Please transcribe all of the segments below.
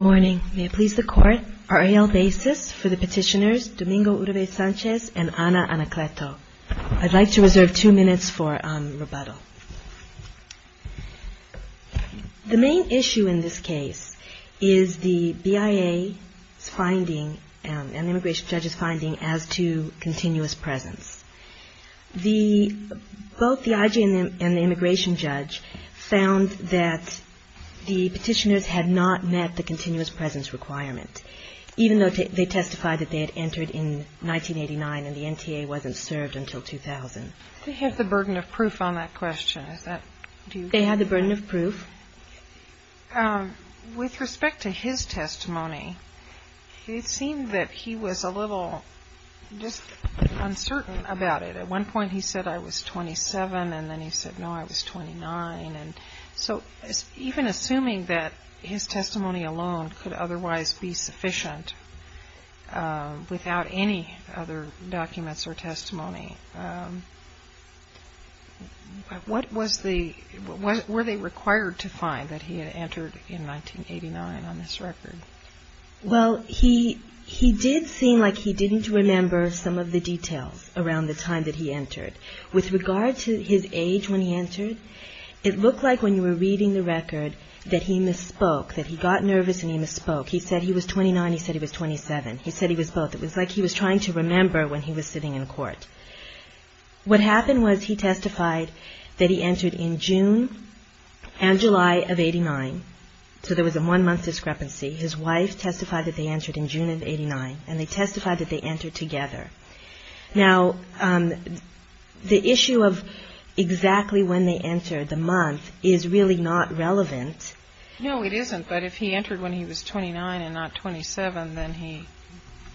Good morning. May it please the Court, RAL basis for the petitioners Domingo Uribe Sanchez and Ana Anacleto. I'd like to reserve two minutes for rebuttal. The main issue in this case is the BIA's finding and the immigration judge's finding as to continuous presence. Both the IG and the immigration judge found that the petitioners had not met the continuous presence requirement, even though they testified that they had entered in 1989 and the NTA wasn't served until 2000. They have the burden of proof on that question. They have the burden of proof. With respect to his testimony, it seemed that he was a little just uncertain about it. At one point he said, I was 27 and then he said, no, I was 29. Even assuming that his testimony alone could otherwise be sufficient without any other documents or testimony, were they required to find that he had entered in 1989 on this record? Well, he did seem like he didn't remember some of the details around the time that he entered. With regard to his age when he entered, it looked like when you were reading the record that he misspoke, that he got nervous and he misspoke. He said he was 29, he said he was 27. He said he was both. It was like he was trying to remember when he was sitting in court. What happened was he testified that he entered in June and July of 89, so there was a one-month discrepancy. His wife testified that they entered in June of 89, and they testified that they entered together. Now, the issue of exactly when they entered the month is really not relevant. No, it isn't, but if he entered when he was 29 and not 27, then he,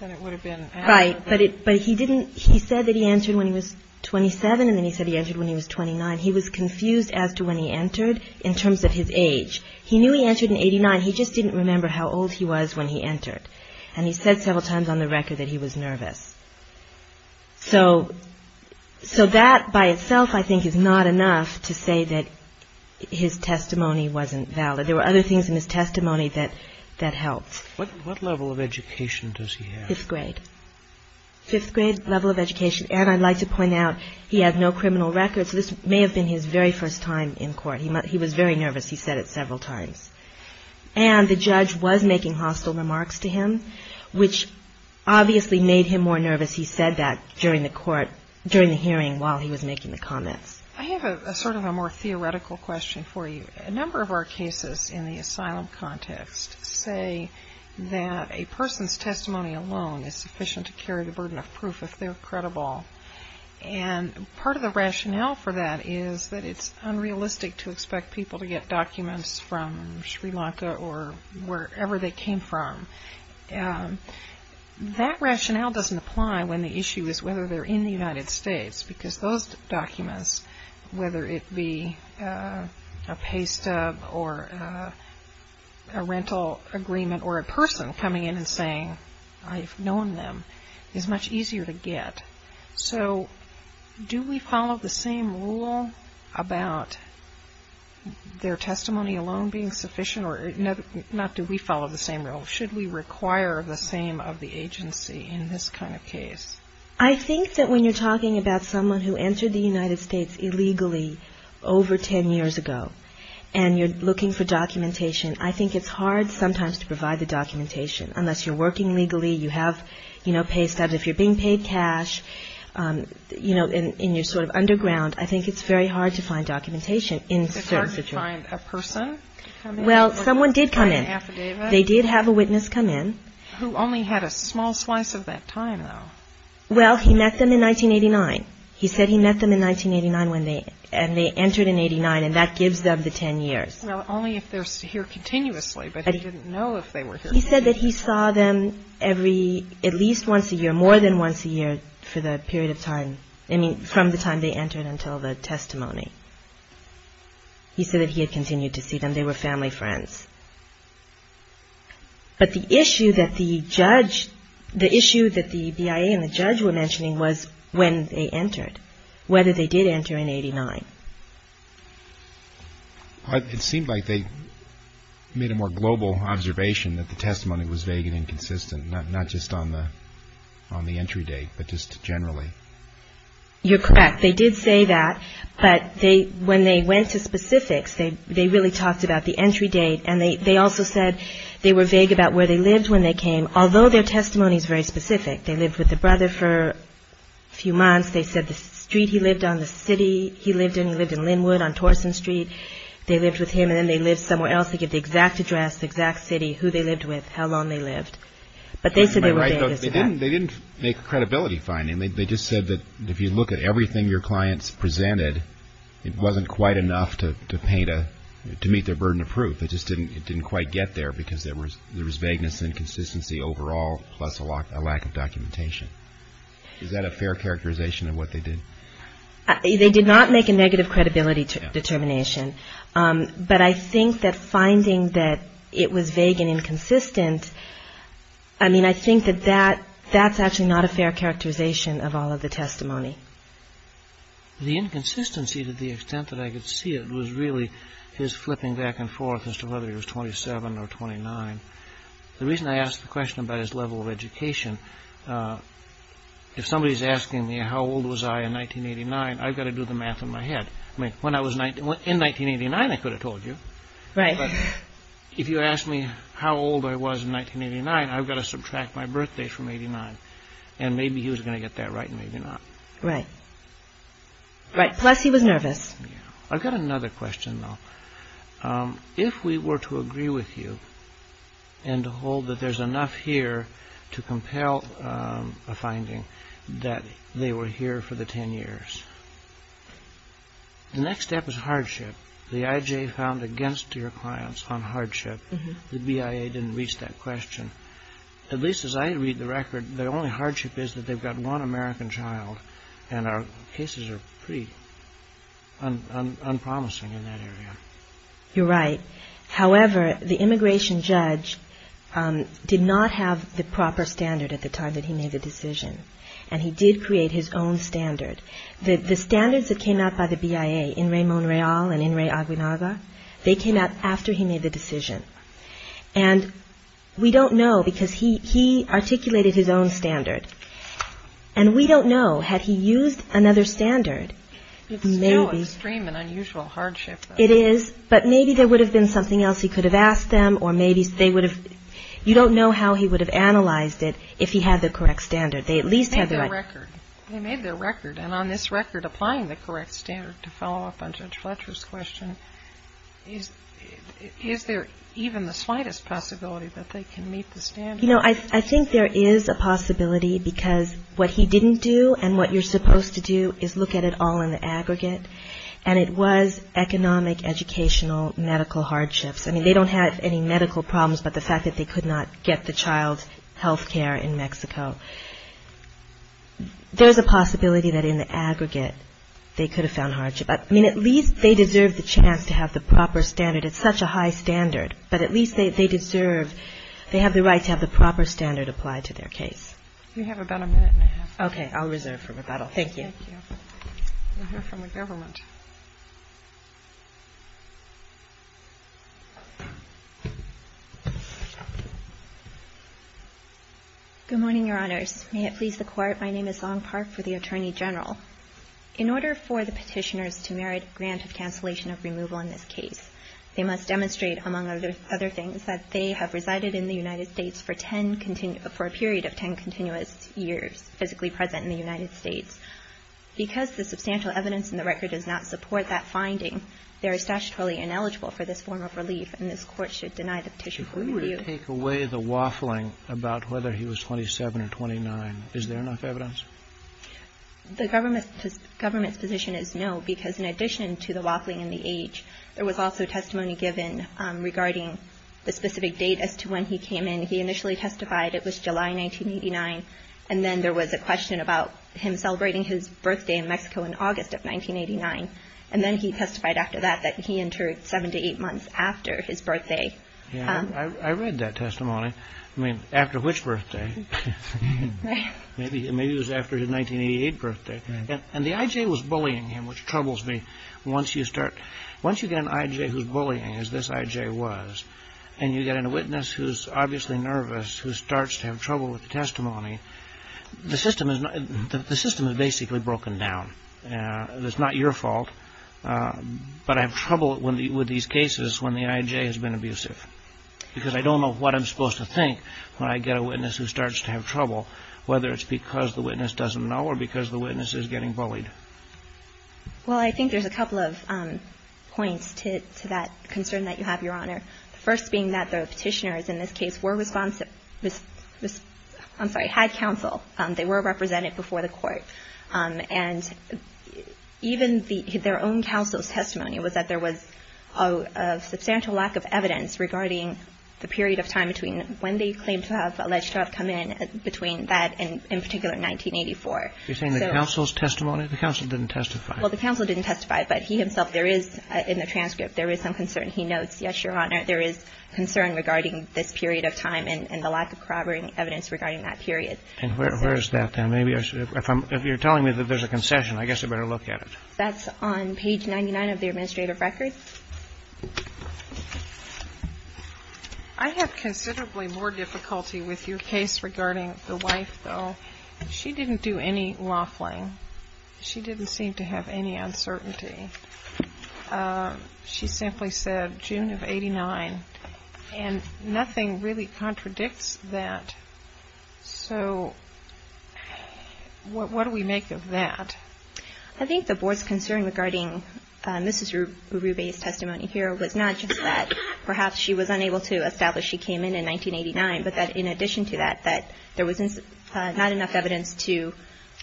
then it would have been. Right, but he didn't, he said that he entered when he was 27, and then he said he entered when he was 29. He was confused as to when he entered in terms of his age. He knew he entered in 89, he just didn't remember how old he was when he entered. And he said several times on the record that he was nervous. So that by itself, I think, is not enough to say that his testimony wasn't valid. There were other things in his testimony that helped. What level of education does he have? Fifth grade. Fifth grade level of education. And I'd like to point out, he had no criminal records, so this may have been his very first time in court. He was very nervous. He said it several times. And the judge was making hostile remarks to him, which obviously made him more nervous. He said that during the hearing while he was making the comments. I have sort of a more theoretical question for you. A number of our cases in the asylum context say that a person's testimony alone is sufficient to carry the burden of proof if they're credible. And part of the rationale for that is that it's unrealistic to expect people to get documents from Sri Lanka or wherever they came from. That rationale doesn't apply when the issue is whether they're in the United States, because those documents, whether it be a pay stub or a rental agreement or a person coming in and saying, I've known them, is much easier to get. So do we follow the same rule about their testimony alone being sufficient? Not do we follow the same rule. Should we require the same of the agency in this kind of case? I think that when you're talking about someone who entered the United States illegally over ten years ago and you're looking for documentation, I think it's hard sometimes to provide the documentation, unless you're working legally, you have, you know, pay stubs. If you're being paid cash, you know, and you're sort of underground, I think it's very hard to find documentation in certain situations. It's hard to find a person to come in? Well, someone did come in. They did have a witness come in. Who only had a small slice of that time, though. Well, he met them in 1989. He said he met them in 1989 when they, and they entered in 89, and that gives them the ten years. Well, only if they're here continuously, but he didn't know if they were here. He said that he saw them every, at least once a year, more than once a year for the period of time, I mean, from the time they entered until the testimony. He said that he had continued to see them. They were family friends. But the issue that the judge, the issue that the BIA and the judge were mentioning was when they entered, whether they did enter in 89. It seemed like they made a more global observation that the testimony was vague and inconsistent, not just on the entry date, but just generally. You're correct. They did say that, but they, when they went to specifics, they really talked about the entry date, and they also said they were vague about where they lived when they came, although their testimony is very specific. They lived with the brother for a few months. They said the street he lived on, the city he lived in. He lived in Linwood on Torson Street. They lived with him, and then they lived somewhere else. They gave the exact address, the exact city, who they lived with, how long they lived. But they said they were vague as to that. They didn't make a credibility finding. They just said that if you look at everything your clients presented, it wasn't quite enough to paint a, to meet their burden of proof. It just didn't quite get there because there was vagueness and inconsistency overall, plus a lack of documentation. Is that a fair characterization of what they did? They did not make a negative credibility determination, but I think that finding that it was vague and inconsistent, I mean, I think that that's actually not a fair characterization of all of the testimony. The inconsistency, to the extent that I could see it, was really his flipping back and forth as to whether he was 27 or 29. The reason I ask the question about his level of education, if somebody's asking me how old was I in 1989, I've got to do the math in my head. I mean, in 1989, I could have told you. Right. But if you ask me how old I was in 1989, I've got to subtract my birthday from 89. And maybe he was going to get that right and maybe not. Right. Right, plus he was nervous. I've got another question, though. If we were to agree with you and to hold that there's enough here to compel a finding that they were here for the 10 years, the next step is hardship. The IJ found against your clients on hardship. The BIA didn't reach that question. At least as I read the record, the only hardship is that they've got one American child, and our cases are pretty unpromising in that area. You're right. However, the immigration judge did not have the proper standard at the time that he made the decision. And he did create his own standard. The standards that came out by the BIA, Inrei Monreal and Inrei Aguinalda, they came out after he made the decision. And we don't know because he articulated his own standard. And we don't know had he used another standard. It's still an extreme and unusual hardship. It is. But maybe there would have been something else he could have asked them or maybe they would have – you don't know how he would have analyzed it if he had the correct standard. They at least had the right – They made their record. They made their record. And on this record, applying the correct standard to follow up on Judge Fletcher's question, is there even the slightest possibility that they can meet the standard? You know, I think there is a possibility because what he didn't do and what you're supposed to do is look at it all in the aggregate. And it was economic, educational, medical hardships. I mean, they don't have any medical problems but the fact that they could not get the child health care in Mexico. There's a possibility that in the aggregate they could have found hardship. I mean, at least they deserve the chance to have the proper standard. It's such a high standard. But at least they deserve – they have the right to have the proper standard applied to their case. We have about a minute and a half. Okay. I'll reserve for rebuttal. Thank you. Thank you. We'll hear from the government. Good morning, Your Honors. May it please the Court. My name is Song Park for the Attorney General. In order for the Petitioners to merit grant of cancellation of removal in this case, they must demonstrate, among other things, that they have resided in the United States for 10 – for a period of 10 continuous years physically present in the United States. Because the substantial evidence in the record does not support that finding, they are statutorily ineligible for this form of relief and this Court should deny the petition for review. If we were to take away the waffling about whether he was 27 or 29, is there enough evidence? The government's position is no because in addition to the waffling and the age, there was also testimony given regarding the specific date as to when he came in. He initially testified it was July 1989. And then there was a question about him celebrating his birthday in Mexico in August of 1989. And then he testified after that that he entered 7 to 8 months after his birthday. Yeah, I read that testimony. I mean, after which birthday? Maybe it was after his 1988 birthday. And the I.J. was bullying him, which troubles me. Once you start – once you get an I.J. who's bullying, as this I.J. was, and you get a witness who's obviously nervous, who starts to have trouble with the testimony, the system is basically broken down. It's not your fault, but I have trouble with these cases when the I.J. has been abusive. Because I don't know what I'm supposed to think when I get a witness who starts to have trouble, whether it's because the witness doesn't know or because the witness is getting bullied. Well, I think there's a couple of points to that concern that you have, Your Honor. The first being that the Petitioners in this case were – I'm sorry, had counsel. They were represented before the Court. And even their own counsel's testimony was that there was a substantial lack of evidence regarding the period of time between when they claimed to have alleged to have come in between that and in particular 1984. You're saying the counsel's testimony? The counsel didn't testify. Well, the counsel didn't testify. But he himself, there is – in the transcript, there is some concern. He notes, yes, Your Honor, there is concern regarding this period of time and the lack of corroborating evidence regarding that period. And where is that then? Maybe if I'm – if you're telling me that there's a concession, I guess I better look at it. That's on page 99 of the administrative record. I have considerably more difficulty with your case regarding the wife, though. She didn't do any laughing. She didn't seem to have any uncertainty. She simply said June of 89. And nothing really contradicts that. So what do we make of that? I think the Board's concern regarding Mrs. Urube's testimony here was not just that perhaps she was unable to establish she came in in 1989, but that in addition to that, that there was not enough evidence to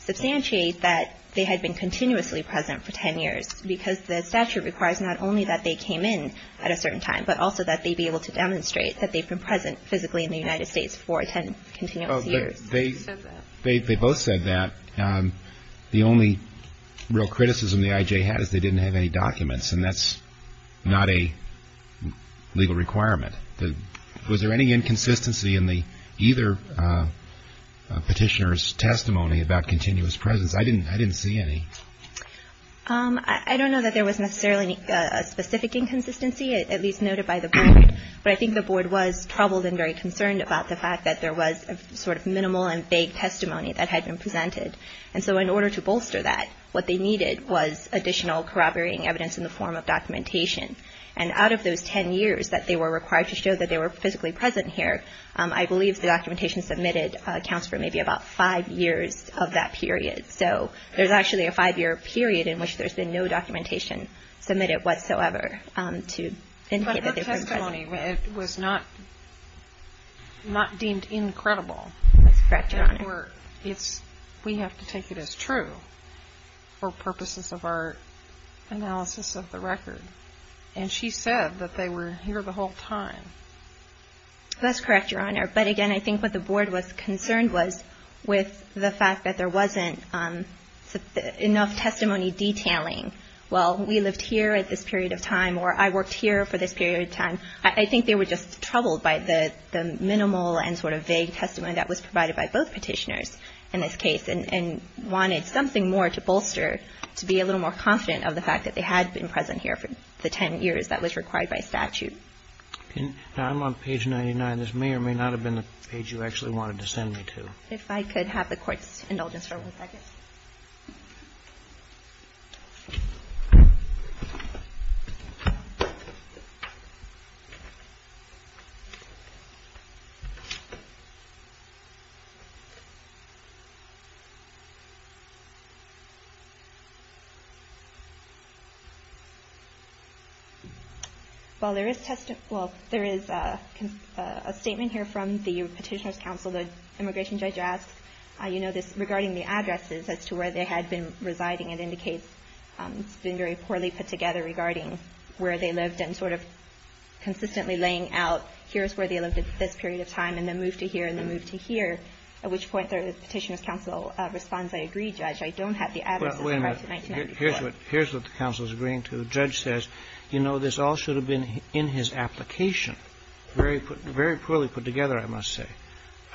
substantiate that they had been continuously present for 10 years. Because the statute requires not only that they came in at a certain time, but also that they be able to demonstrate that they've been present physically in the United States for 10 continuous years. They both said that. The only real criticism the I.J. had is they didn't have any documents, and that's not a legal requirement. Was there any inconsistency in either petitioner's testimony about continuous presence? I didn't see any. I don't know that there was necessarily a specific inconsistency, at least noted by the Board. But I think the Board was troubled and very concerned about the fact that there was a sort of minimal and vague testimony that had been presented. And so in order to bolster that, what they needed was additional corroborating evidence in the form of documentation. And out of those 10 years that they were required to show that they were physically present here, I believe the documentation submitted accounts for maybe about five years of that period. So there's actually a five-year period in which there's been no documentation submitted whatsoever to indicate that they've been present. But the testimony was not deemed incredible. That's correct, Your Honor. We have to take it as true for purposes of our analysis of the record. And she said that they were here the whole time. That's correct, Your Honor. But, again, I think what the Board was concerned was with the fact that there wasn't enough testimony detailing, well, we lived here at this period of time, or I worked here for this period of time. I think they were just troubled by the minimal and sort of vague testimony that was provided by both Petitioners in this case and wanted something more to bolster to be a little more confident of the fact that they had been present here for the 10 years that was required by statute. Now, I'm on page 99. This may or may not have been the page you actually wanted to send me to. If I could have the Court's indulgence for one second. While there is testimony, well, there is a statement here from the Petitioners' Counsel, the Immigration Judge, regarding the addresses as to where they had been residing. It indicates it's been very poorly put together regarding where they lived and sort of consistently laying out, here's where they lived at this period of time and then moved to here and then moved to here, at which point the Petitioners' Counsel responds, I agree, Judge. I don't have the addresses. Wait a minute. Here's what the counsel is agreeing to. The judge says, you know, this all should have been in his application. Very poorly put together, I must say.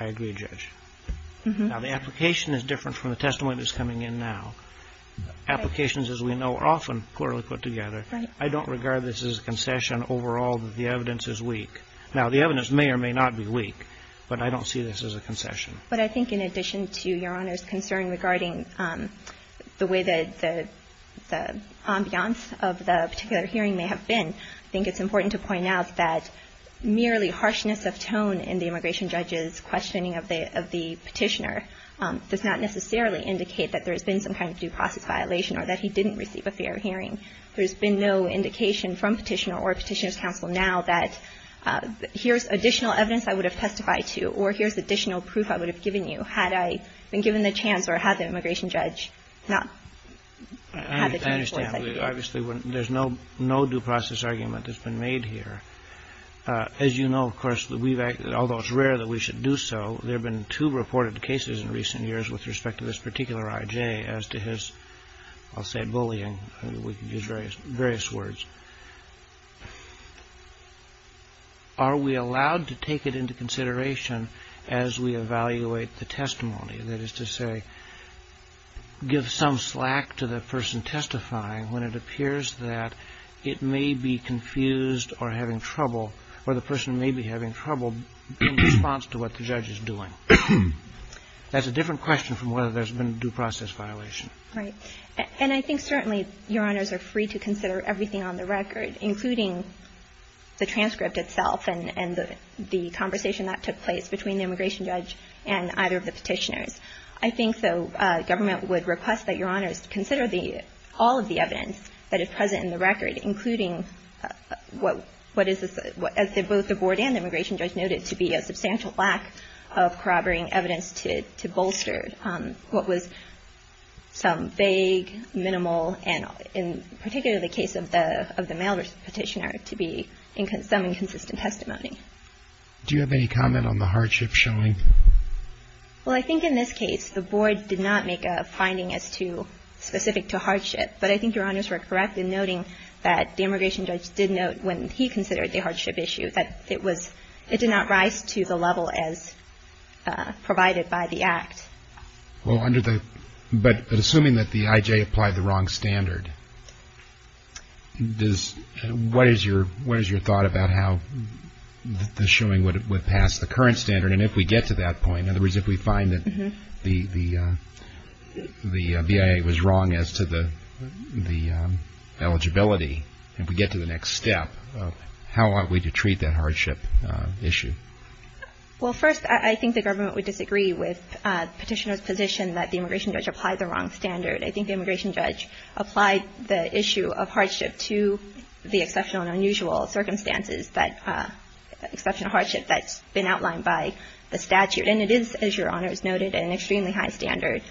I agree, Judge. Now, the application is different from the testimony that's coming in now. Applications, as we know, are often poorly put together. Right. I don't regard this as a concession overall that the evidence is weak. Now, the evidence may or may not be weak, but I don't see this as a concession. But I think in addition to Your Honor's concern regarding the way that the ambiance of the particular hearing may have been, I think it's important to point out that merely the harshness of tone in the immigration judge's questioning of the Petitioner does not necessarily indicate that there has been some kind of due process violation or that he didn't receive a fair hearing. There's been no indication from Petitioner or Petitioners' Counsel now that here's additional evidence I would have testified to or here's additional proof I would have given you had I been given the chance or had the immigration judge not had the There's no due process argument that's been made here. As you know, of course, although it's rare that we should do so, there have been two reported cases in recent years with respect to this particular I.J. as to his, I'll say, bullying. We can use various words. Are we allowed to take it into consideration as we evaluate the testimony? That is to say, give some slack to the person testifying when it appears that it may be confused or having trouble or the person may be having trouble in response to what the judge is doing. That's a different question from whether there's been a due process violation. Right. And I think certainly Your Honors are free to consider everything on the record, including what is both the board and the immigration judge noted to be a substantial lack of corroborating evidence to bolster what was some vague, minimal, and in particularly the case of the male petitioner, to be some inconsistent testimony. Do you have any comment on the hardship showing? Well, I think in this case the board did not make a finding as to specific to hardship, but I think Your Honors were correct in noting that the immigration judge did note when he considered the hardship issue that it was, it did not rise to the level as provided by the act. Well, but assuming that the IJ applied the wrong standard, what is your thought about how the showing would pass the current standard? And if we get to that point, in other words, if we find that the BIA was wrong as to the eligibility, if we get to the next step, how ought we to treat that hardship issue? Well, first, I think the government would disagree with the petitioner's position that the immigration judge applied the wrong standard. I think the immigration judge applied the issue of hardship to the exceptional and unusual circumstances that exceptional hardship that's been outlined by the statute. And it is, as Your Honors noted, an extremely high standard.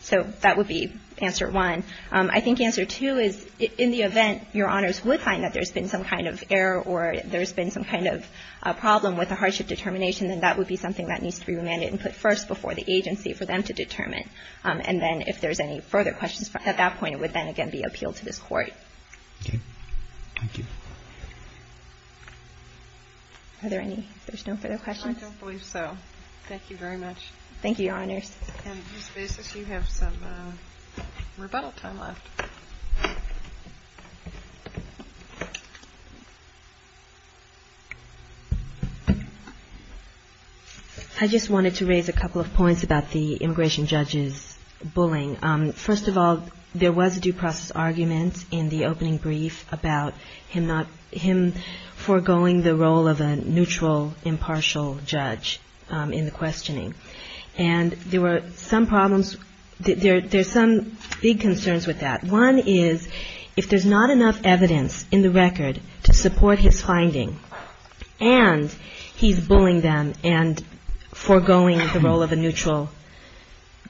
So that would be answer one. I think answer two is in the event Your Honors would find that there's been some kind of error or there's been some kind of a problem with the hardship determination, then that would be something that needs to be remanded and put first before the agency for them to determine. And then if there's any further questions at that point, it would then again be appealed to this Court. Okay. Thank you. Are there any? There's no further questions? I don't believe so. Thank you very much. Thank you, Your Honors. Ms. Basis, you have some rebuttal time left. I just wanted to raise a couple of points about the immigration judge's bullying. First of all, there was a due process argument in the opening brief about him foregoing the role of a neutral, impartial judge in the questioning. And there were some problems, there's some big concerns with that. One is if there's not enough evidence in the record to support his finding and he's bullying them and foregoing the role of a neutral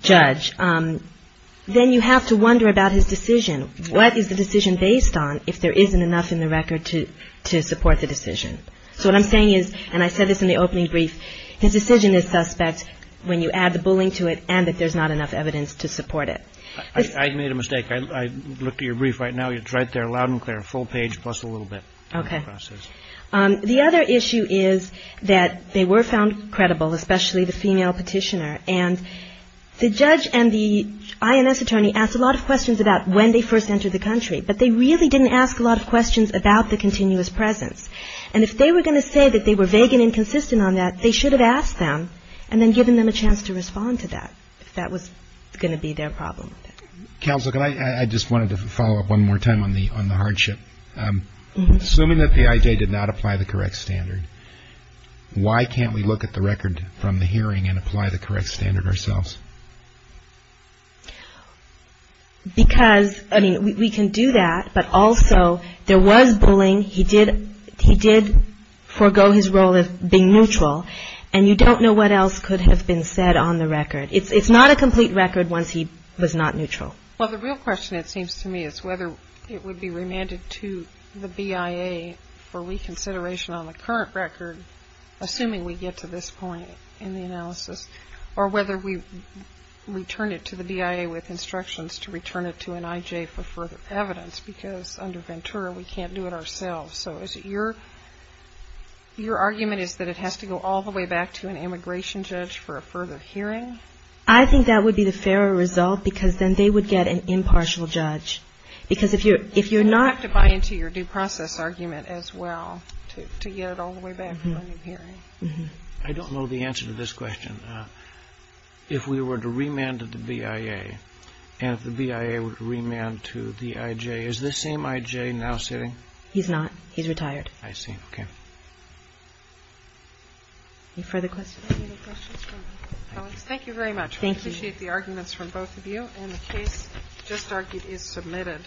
judge, then you have to wonder about his decision. What is the decision based on if there isn't enough in the record to support the decision? So what I'm saying is, and I said this in the opening brief, his decision is suspect when you add the bullying to it and that there's not enough evidence to support it. I made a mistake. I looked at your brief right now. It's right there loud and clear, full page plus a little bit. Okay. The other issue is that they were found credible, especially the female petitioner. And the judge and the INS attorney asked a lot of questions about when they first entered the country, but they really didn't ask a lot of questions about the continuous presence. And if they were going to say that they were vague and inconsistent on that, they should have asked them and then given them a chance to respond to that if that was going to be their problem. Counsel, I just wanted to follow up one more time on the hardship. Assuming that PIJ did not apply the correct standard, why can't we look at the record from the hearing and apply the correct standard ourselves? Because, I mean, we can do that, but also there was bullying. He did forego his role of being neutral, and you don't know what else could have been said on the record. It's not a complete record once he was not neutral. Well, the real question, it seems to me, is whether it would be remanded to the BIA for reconsideration on the current record, assuming we get to this point in the analysis, or whether we return it to the BIA with instructions to return it to an IJ for further evidence, because under Ventura, we can't do it ourselves. So is it your argument is that it has to go all the way back to an immigration judge for a further hearing? I think that would be the fairer result, because then they would get an impartial judge. Because if you're not to buy into your due process argument as well to get it all the way back for a new hearing. I don't know the answer to this question. If we were to remand to the BIA, and if the BIA were to remand to the IJ, is this same IJ now sitting? He's not. He's retired. I see. Okay. Any further questions? Thank you very much. Thank you. We appreciate the arguments from both of you, and the case just argued is submitted.